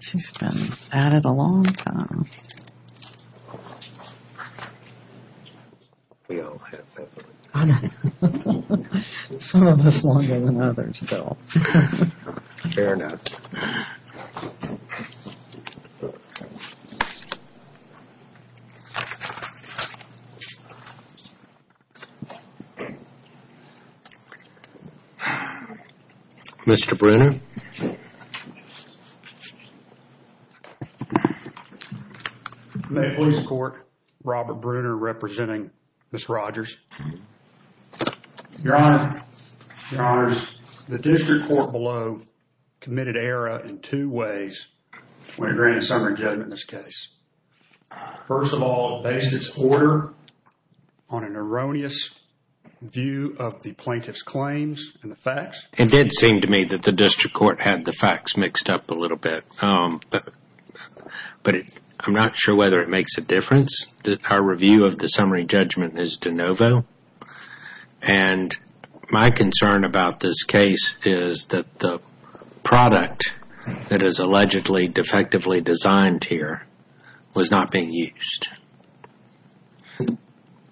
She's been at it a long time. Some of us longer than others, Bill. Mr. Brunner. May it please the court, Robert Brunner representing Ms. Rodgers. Your Honor, your honors, the district court below committed error in two ways when it granted summary judgment in this case. First of all, based its order on an erroneous view of the plaintiff's claims and the facts. It did seem to me that the district court had the facts mixed up a little bit, but I'm not sure whether it makes a difference. Our review of the summary judgment is de novo. And my concern about this case is that the product that is allegedly defectively designed here was not being used.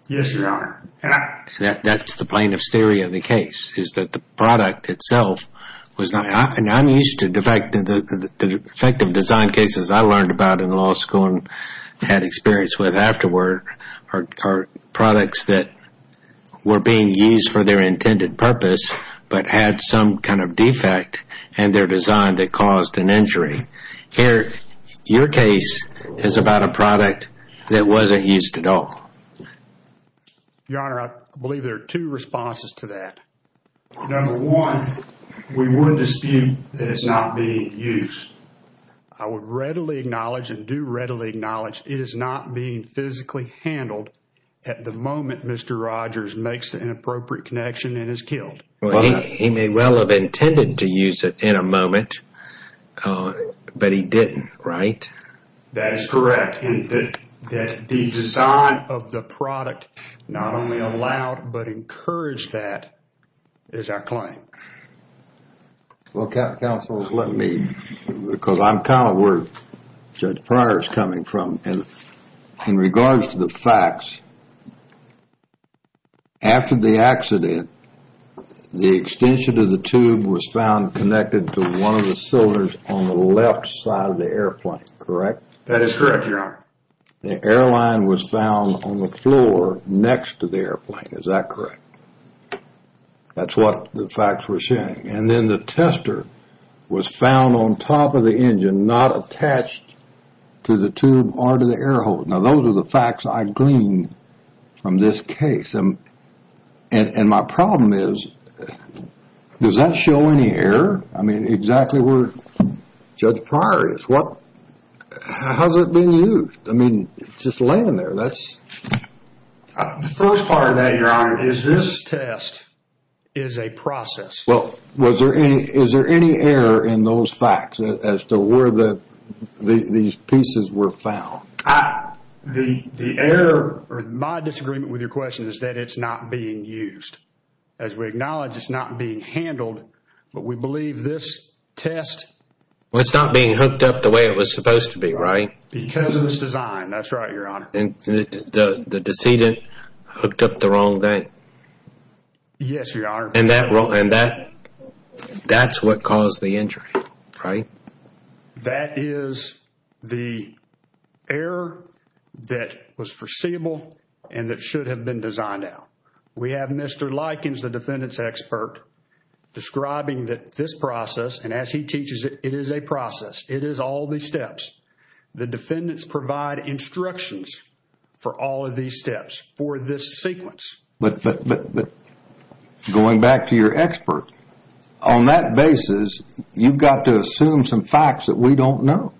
Yes, your honor. That's the plaintiff's theory of the case, is that the product itself was not. I'm used to the fact that the defective design cases I learned about in law school and had experience with afterward are products that were being used for their intended purpose, but had some kind of defect in their design that caused an injury. Here, your case is about a product that wasn't used at all. Your Honor, I believe there are two responses to that. Number one, we would dispute that it's not being used. I would readily acknowledge and do readily acknowledge it is not being physically handled at the moment Mr. Rodgers makes an inappropriate connection and is killed. He may well have intended to use it in a moment, but he didn't, right? That is correct. The design of the product not only allowed, but encouraged that is our claim. Counsel, let me, because I'm kind of where Judge Pryor is coming from. In regards to the facts, after the accident, the extension of the tube was found connected to one of the cylinders on the left side of the airplane, correct? That is correct, your Honor. The airline was found on the floor next to the airplane, is that correct? That's what the facts were saying. Then the tester was found on top of the engine, not attached to the tube or to the air hose. Now, those are the facts I gleaned from this case. My problem is, does that show any error? I mean, exactly where Judge Pryor is. How's it being used? I mean, it's just laying there. The first part of that, your Honor, is this test is a process. Well, is there any error in those facts as to where these pieces were found? The error, or my disagreement with your question, is that it's not being used. As we acknowledge, it's not being handled, but we believe this test... Well, it's not being hooked up the way it was supposed to be, right? Because of this design, that's right, your Honor. The decedent hooked up the wrong thing? Yes, your Honor. And that's what caused the injury, right? That is the error that was foreseeable and that should have been designed out. We have Mr. Likens, the defendant's expert, describing that this process, and as he teaches it, it is a process. It is all these steps. The defendants provide instructions for all of these steps, for this sequence. But going back to your expert, on that basis, you've got to assume some facts that we don't know.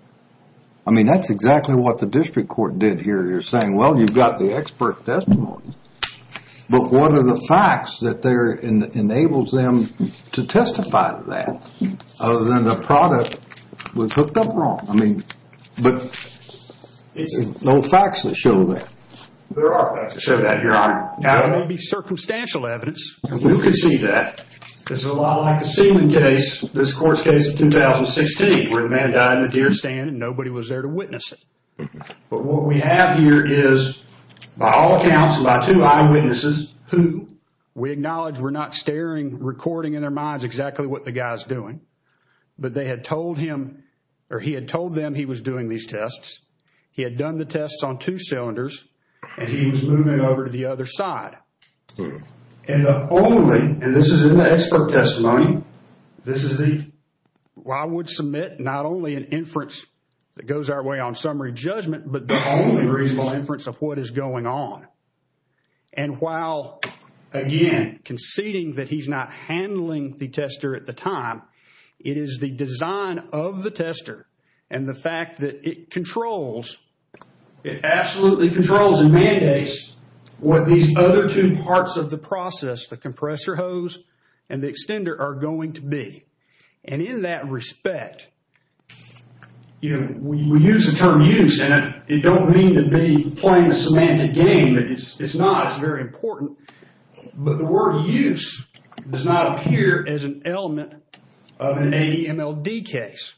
I mean, that's exactly what the district court did here. They're saying, well, you've got the expert testimony, but what are the facts that enables them to testify to that other than the product was hooked up wrong? But there's no facts that show that. There are facts that show that, your Honor. Now, there may be circumstantial evidence. You can see that. This is a lot like the Seaman case, this court's case of 2016, where the man died in the deer stand and nobody was there to witness it. But what we have here is, by all accounts, by two eyewitnesses who we acknowledge were not staring, recording in their minds exactly what the guy's doing, but they had told him, or he had told them he was doing these tests. He had done the tests on two cylinders, and he was moving over to the other side. And the only, and this is in the expert testimony, this is the... Well, I would submit not only an inference that goes our way on summary judgment, but the only reasonable inference of what is going on. And while, again, conceding that he's not handling the tester at the time, it is the design of the tester and the fact that it controls, it absolutely controls and mandates what these other two parts of the process, the compressor hose and the extender, are going to be. And in that respect, we use the term use, and I don't mean to be playing the semantic game. It's not. It's very important. But the word use does not appear as an element of an ADMLD case,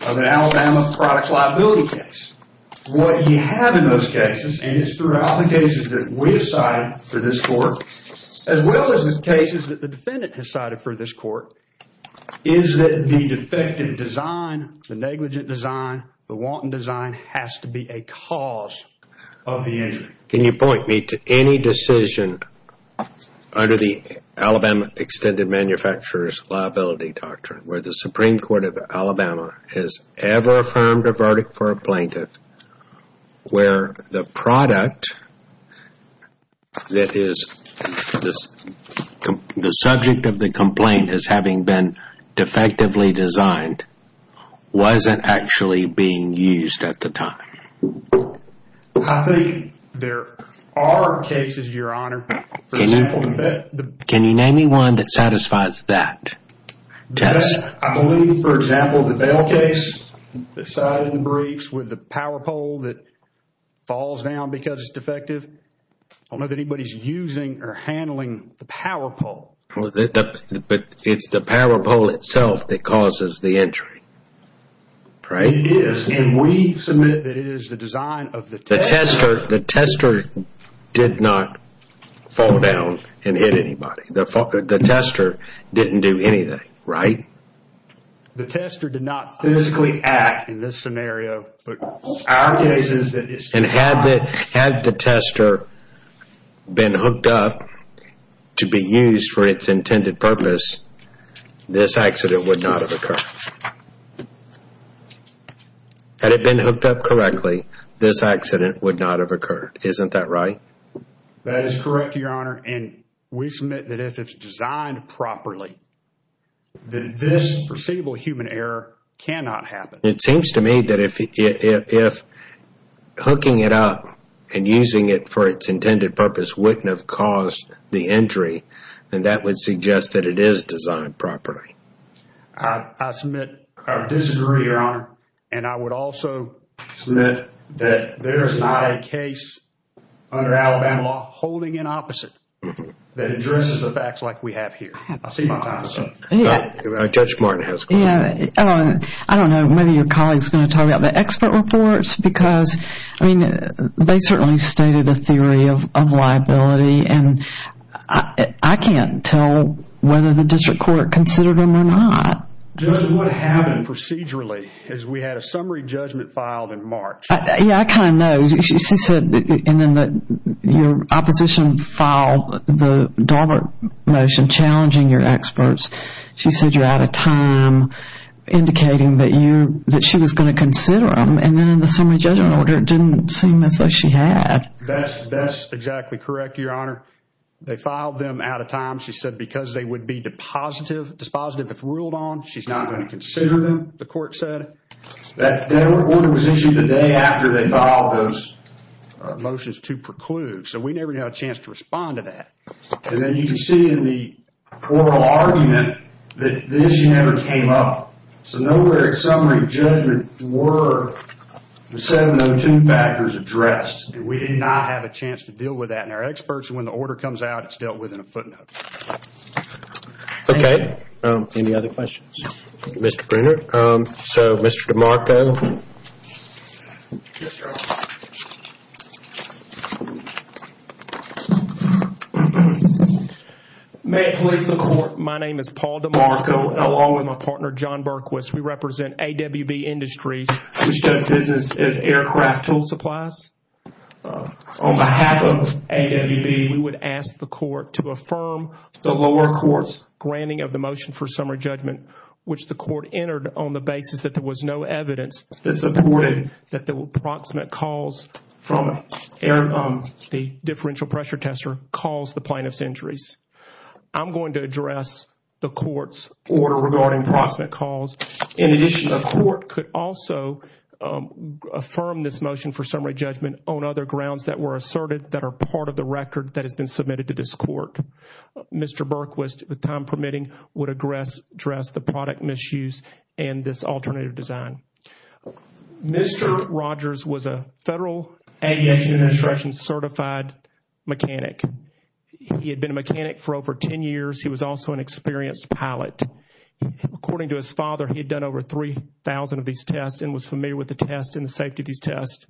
of an Alabama product liability case. What you have in those cases, and it's throughout the cases that we have cited for this court, as well as the cases that the defendant has cited for this court, is that the defective design, the negligent design, the wanton design, has to be a cause of the injury. Can you point me to any decision under the Alabama Extended Manufacturer's Liability Doctrine where the Supreme Court of Alabama has ever affirmed a verdict for a plaintiff where the product that is the subject of the complaint as having been defectively designed wasn't actually being used at the time? I think there are cases, Your Honor. Can you name me one that satisfies that test? I believe, for example, the Bell case that cited in the briefs with the power pole that falls down because it's defective. I don't know that anybody's using or handling the power pole. But it's the power pole itself that causes the injury, right? It is, and we submit that it is the design of the tester. The tester did not fall down and hit anybody. The tester didn't do anything, right? The tester did not physically act in this scenario. And had the tester been hooked up to be used for its intended purpose, this accident would not have occurred. Had it been hooked up correctly, this accident would not have occurred. Isn't that right? That is correct, Your Honor. And we submit that if it's designed properly, then this foreseeable human error cannot happen. It seems to me that if hooking it up and using it for its intended purpose wouldn't have caused the injury, then that would suggest that it is designed properly. I submit or disagree, Your Honor. And I would also submit that there is not a case under Alabama law holding an opposite that addresses the facts like we have here. I'll see you in time. Judge Martin has a question. I don't know whether your colleague is going to talk about the expert reports because they certainly stated a theory of liability. And I can't tell whether the district court considered them or not. Judge, what happened procedurally is we had a summary judgment filed in March. Yeah, I kind of know. She said your opposition filed the Daubert motion challenging your experts. She said you're out of time, indicating that she was going to consider them. And then in the summary judgment order, it didn't seem as though she had. That's exactly correct, Your Honor. They filed them out of time. She said because they would be dispositive if ruled on, she's not going to consider them, the court said. That order was issued the day after they filed those motions to preclude. So we never got a chance to respond to that. And then you can see in the oral argument that the issue never came up. So nowhere in summary judgment were the 702 factors addressed. We did not have a chance to deal with that. And our experts, when the order comes out, it's dealt with in a footnote. Okay. Any other questions? Mr. Bruner? So, Mr. DeMarco? Yes, Your Honor. May it please the court, my name is Paul DeMarco. Along with my partner, John Berquist, we represent AWB Industries, which does business as aircraft tool supplies. On behalf of AWB, we would ask the court to affirm the lower court's granting of the motion for summary judgment, which the court entered on the basis that there was no evidence that supported that there were proximate calls from the differential pressure tester caused the plaintiff's injuries. I'm going to address the court's order regarding proximate calls. In addition, the court could also affirm this motion for summary judgment on other grounds that were asserted that are part of the record that has been submitted to this court. Mr. Berquist, with time permitting, would address the product misuse and this alternative design. Mr. Rogers was a Federal Aviation Instruction certified mechanic. He had been a mechanic for over 10 years. He was also an experienced pilot. According to his father, he had done over 3,000 of these tests and was familiar with the tests and the safety of these tests.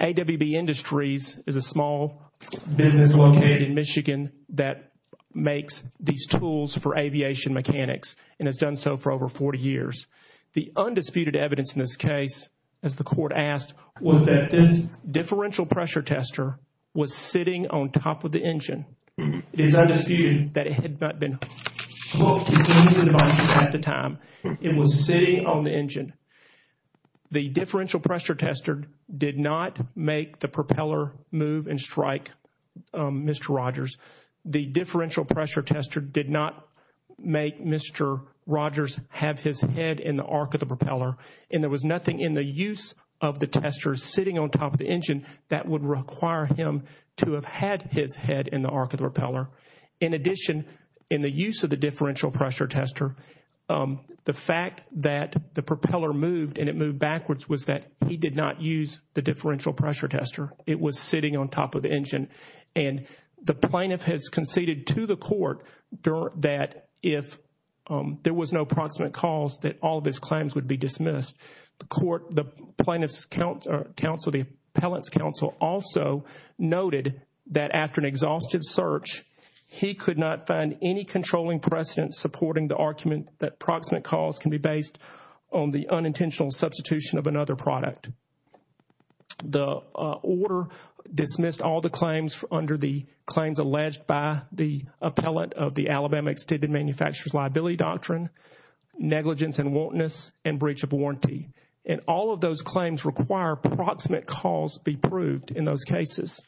AWB Industries is a small business located in Michigan that makes these tools for aviation mechanics and has done so for over 40 years. The undisputed evidence in this case, as the court asked, was that this differential pressure tester was sitting on top of the engine. It is undisputed that it had not been hooked into the device at the time. It was sitting on the engine. The differential pressure tester did not make the propeller move and strike Mr. Rogers. The differential pressure tester did not make Mr. Rogers have his head in the arc of the propeller. And there was nothing in the use of the tester sitting on top of the engine that would require him to have had his head in the arc of the propeller. In addition, in the use of the differential pressure tester, the fact that the propeller moved and it moved backwards was that he did not use the differential pressure tester. It was sitting on top of the engine. And the plaintiff has conceded to the court that if there was no proximate cause, that all of his claims would be dismissed. The plaintiff's counsel, the appellant's counsel, also noted that after an exhaustive search, he could not find any controlling precedent supporting the argument that proximate cause can be based on the unintentional substitution of another product. The order dismissed all the claims under the claims alleged by the appellant of the Alabama Extended Manufacturer's Liability Doctrine, negligence and wantonness, and breach of warranty. And all of those claims require proximate cause be proved in those cases.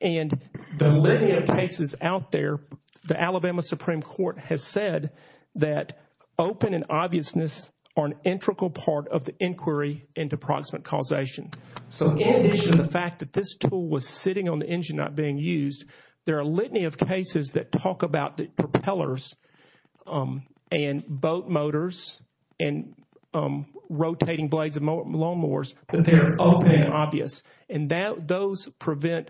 And the many cases out there, the Alabama Supreme Court has said that open and obviousness are an integral part of the inquiry into proximate causation. So in addition to the fact that this tool was sitting on the engine not being used, there are a litany of cases that talk about the propellers and boat motors and rotating blades of lawnmowers that they're open and obvious. And those prevent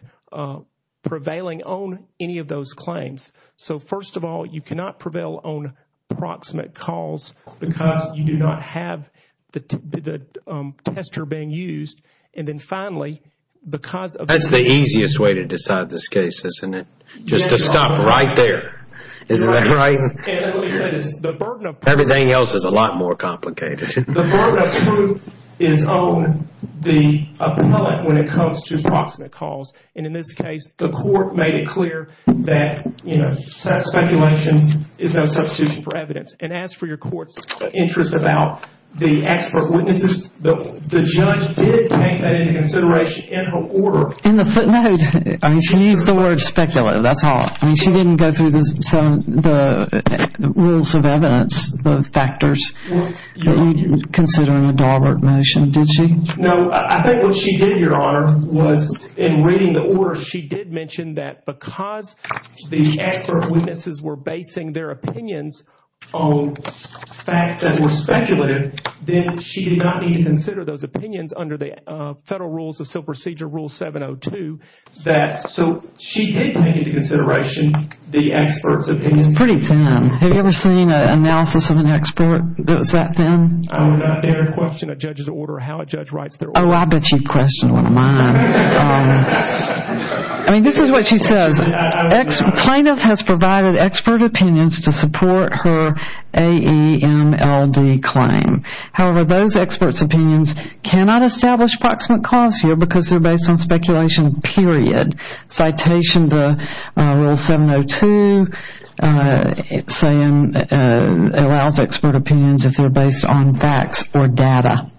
prevailing on any of those claims. So first of all, you cannot prevail on proximate cause because you do not have the tester being used. And then finally, because of the— That's the easiest way to decide this case, isn't it? Just to stop right there. Isn't that right? Everything else is a lot more complicated. The burden of truth is on the appellant when it comes to proximate cause. And in this case, the court made it clear that speculation is no substitution for evidence. And as for your court's interest about the expert witnesses, the judge did take that into consideration in her order. In the footnote, I mean, she used the word speculative. That's all. I mean, she didn't go through the rules of evidence, the factors, considering the Daubert motion, did she? No. I think what she did, Your Honor, was in reading the order, she did mention that because the expert witnesses were basing their opinions on facts that were speculative, then she did not need to consider those opinions under the Federal Rules of Civil Procedure, Rule 702. So she did take into consideration the expert's opinion. It's pretty thin. Have you ever seen an analysis of an expert that was that thin? I would not dare question a judge's order or how a judge writes their order. Oh, I bet you've questioned one of mine. I mean, this is what she says. Plaintiff has provided expert opinions to support her AEMLD claim. However, those experts' opinions cannot establish proximate cause here because they're based on speculation, period. Citation to Rule 702 allows expert opinions if they're based on facts or data.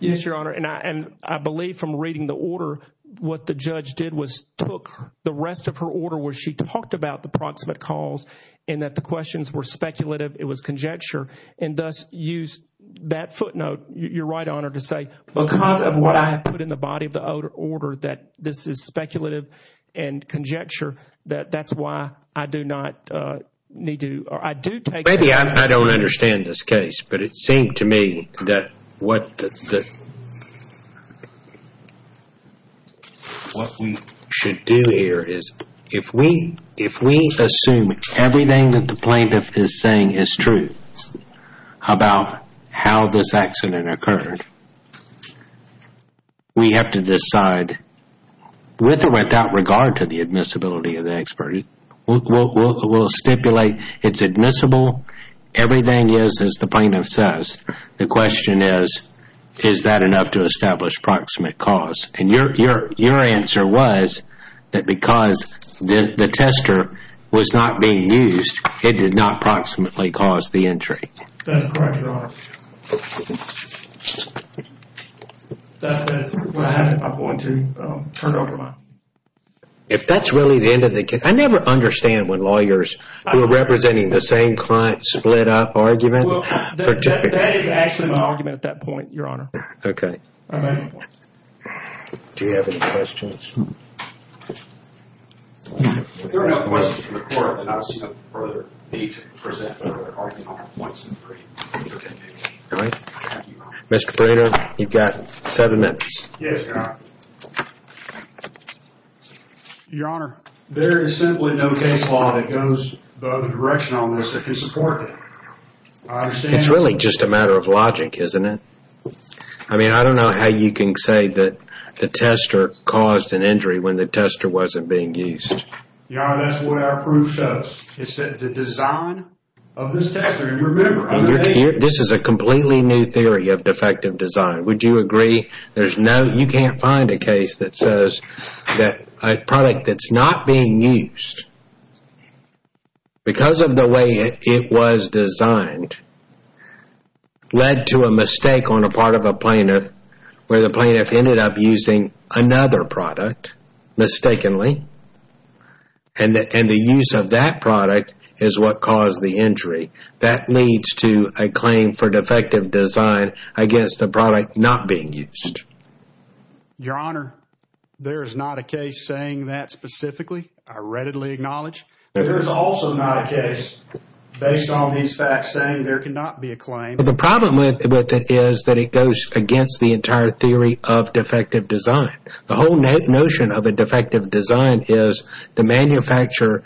Yes, Your Honor, and I believe from reading the order, what the judge did was took the rest of her order where she talked about the proximate cause and that the questions were speculative, it was conjecture, and thus used that footnote, Your Right Honor, to say, because of what I have put in the body of the order that this is speculative and conjecture, that that's why I do not need to, or I do take… Maybe I don't understand this case, but it seemed to me that what we should do here is, if we assume everything that the plaintiff is saying is true about how this accident occurred, we have to decide with or without regard to the admissibility of the expert. We'll stipulate it's admissible. Everything is as the plaintiff says. The question is, is that enough to establish proximate cause? And your answer was that because the tester was not being used, it did not proximately cause the injury. That's correct, Your Honor. That's what I had at my point too. If that's really the end of the case, I never understand when lawyers who are representing the same client split up argument. That is actually my argument at that point, Your Honor. Okay. All right. Do you have any questions? If there are no questions from the court, then I will see no further need to present further argument on points in the brief. Okay. All right. Mr. Carado, you've got seven minutes. Yes, Your Honor. All right. Your Honor, there is simply no case law that goes the other direction on this that can support that. I understand. It's really just a matter of logic, isn't it? I mean, I don't know how you can say that the tester caused an injury when the tester wasn't being used. Your Honor, that's what our proof shows. It's that the design of this tester, you remember, okay? This is a completely new theory of defective design. Would you agree? You can't find a case that says that a product that's not being used because of the way it was designed led to a mistake on the part of a plaintiff where the plaintiff ended up using another product mistakenly, and the use of that product is what caused the injury. That leads to a claim for defective design against the product not being used. Your Honor, there is not a case saying that specifically. I readily acknowledge. There is also not a case based on these facts saying there cannot be a claim. The problem with it is that it goes against the entire theory of defective design. The whole notion of a defective design is the manufacturer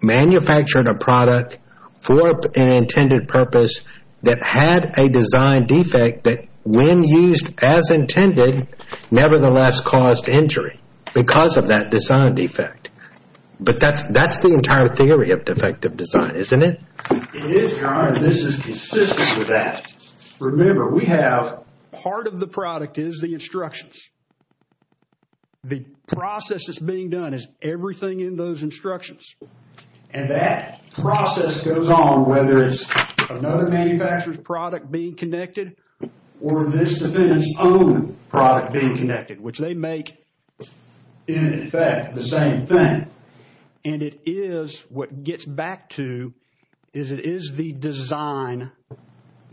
manufactured a product for an intended purpose that had a design defect that, when used as intended, nevertheless caused injury because of that design defect. But that's the entire theory of defective design, isn't it? It is, Your Honor, and this is consistent with that. Remember, we have part of the product is the instructions. The process that's being done is everything in those instructions, and that process goes on whether it's another manufacturer's product being connected or this defendant's own product being connected, which they make, in effect, the same thing. What it gets back to is it is the design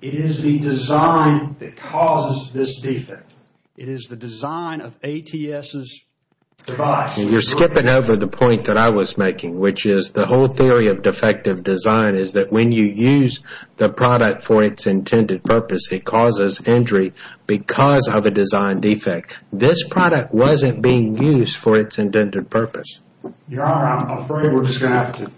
that causes this defect. It is the design of ATS's device. You're skipping over the point that I was making, which is the whole theory of defective design is that when you use the product for its intended purpose, it causes injury because of a design defect. This product wasn't being used for its intended purpose. Your Honor, I'm afraid we're just going to have to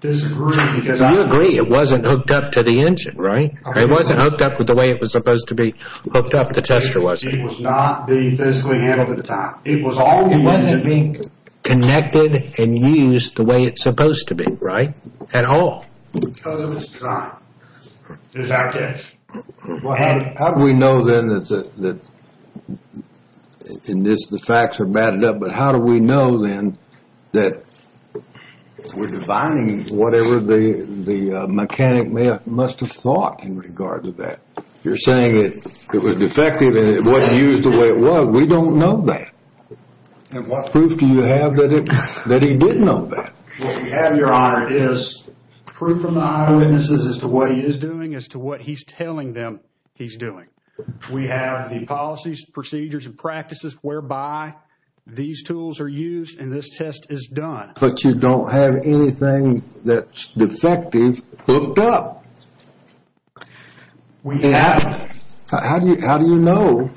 disagree because I... You agree it wasn't hooked up to the engine, right? It wasn't hooked up the way it was supposed to be hooked up. The tester wasn't. It was not being physically handled at the time. It was always... It wasn't being connected and used the way it's supposed to be, right? At all. Because of its design, is our guess. How do we know, then, that the facts are batted up, but how do we know, then, that we're defining whatever the mechanic must have thought in regard to that? You're saying it was defective and it wasn't used the way it was. We don't know that. What proof do you have that he did know that? What we have, Your Honor, is proof from the eyewitnesses as to what he is doing, as to what he's telling them he's doing. We have the policies, procedures, and practices whereby these tools are used and this test is done. But you don't have anything that's defective hooked up. We have. How do you know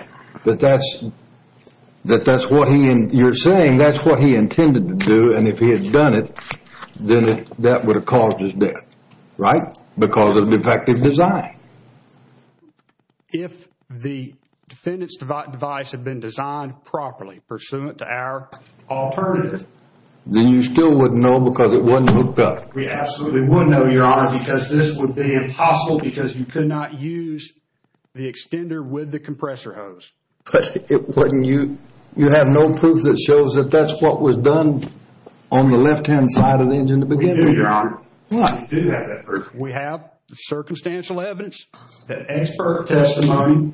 that that's what he... You're saying that's what he intended to do, and if he had done it, then that would have caused his death, right? Because of defective design. If the defendant's device had been designed properly, pursuant to our alternative... Then you still wouldn't know because it wasn't hooked up. We absolutely wouldn't know, Your Honor, because this would be impossible because you could not use the extender with the compressor hose. You have no proof that shows that that's what was done on the left-hand side of the engine to begin with? I do, Your Honor. I do have that proof. We have the circumstantial evidence, the expert testimony,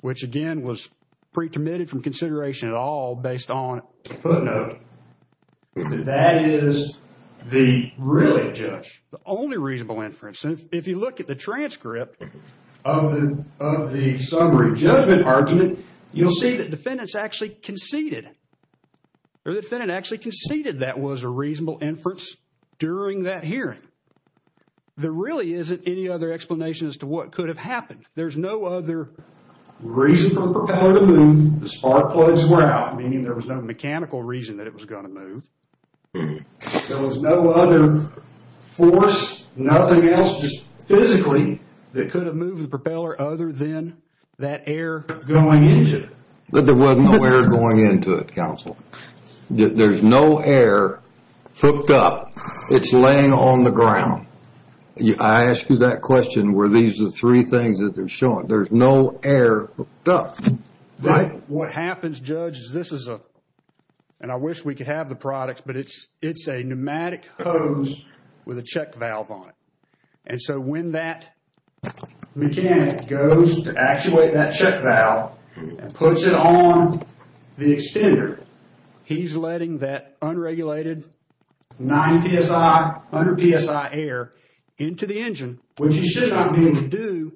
which again was pre-permitted from consideration at all based on a footnote. That is the real judge, the only reasonable inference. If you look at the transcript of the summary judgment argument, you'll see that defendants actually conceded. Their defendant actually conceded that was a reasonable inference during that hearing. There really isn't any other explanation as to what could have happened. There's no other reason for the propeller to move. The spark plugs were out, meaning there was no mechanical reason that it was going to move. There was no other force, nothing else just physically, that could have moved the propeller other than that air going into it. There was no air going into it, counsel. There's no air hooked up. It's laying on the ground. I ask you that question where these are the three things that they're showing. There's no air hooked up, right? What happens, Judge, is this is a, and I wish we could have the products, but it's a pneumatic hose with a check valve on it. When that mechanic goes to actuate that check valve and puts it on the extender, he's letting that unregulated 90 PSI, 100 PSI air into the engine, which he should not be able to do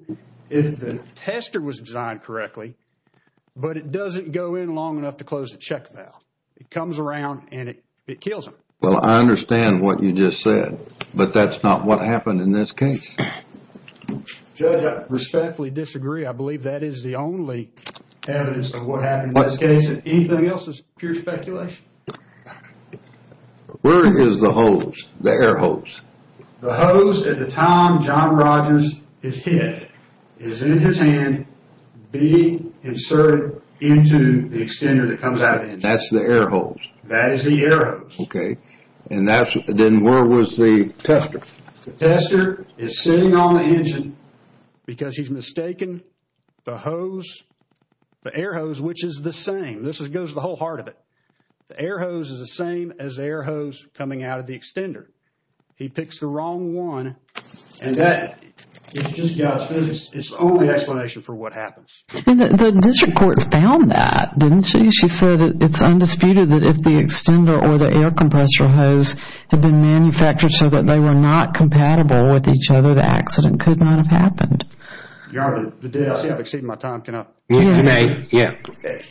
if the tester was designed correctly, but it doesn't go in long enough to close the check valve. It comes around and it kills him. Well, I understand what you just said, but that's not what happened in this case. Judge, I respectfully disagree. I believe that is the only evidence of what happened in this case. Anything else is pure speculation? Where is the hose, the air hose? The hose at the time John Rogers is hit is in his hand being inserted into the extender that comes out of the engine. That's the air hose? That is the air hose. Okay. Then where was the tester? The tester is sitting on the engine because he's mistaken the hose, the air hose, which is the same. This goes to the whole heart of it. The air hose is the same as the air hose coming out of the extender. He picks the wrong one and that is just God's business. It's the only explanation for what happens. The district court found that, didn't she? She said it's undisputed that if the extender or the air compressor hose had been manufactured so that they were not compatible with each other, the accident could not have happened. I see I've exceeded my time. Can I? You may.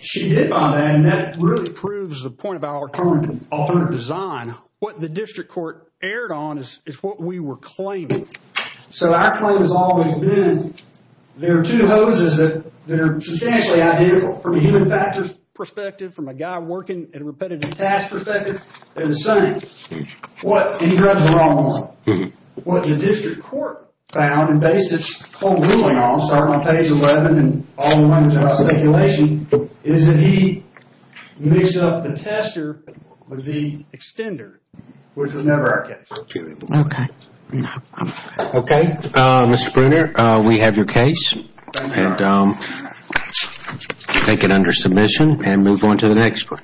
She did find that and that really proves the point of our current design. What the district court erred on is what we were claiming. Our claim has always been there are two hoses that are substantially identical from a human factors perspective, from a guy working in a repetitive task perspective. They're the same. Any drugs are all the same. What the district court found and based its whole ruling on, starting on page 11 and all the way to speculation, is that he mixed up the tester with the extender, which was never our case. Okay. Okay, Mr. Brunner, we have your case and take it under submission and move on to the next one.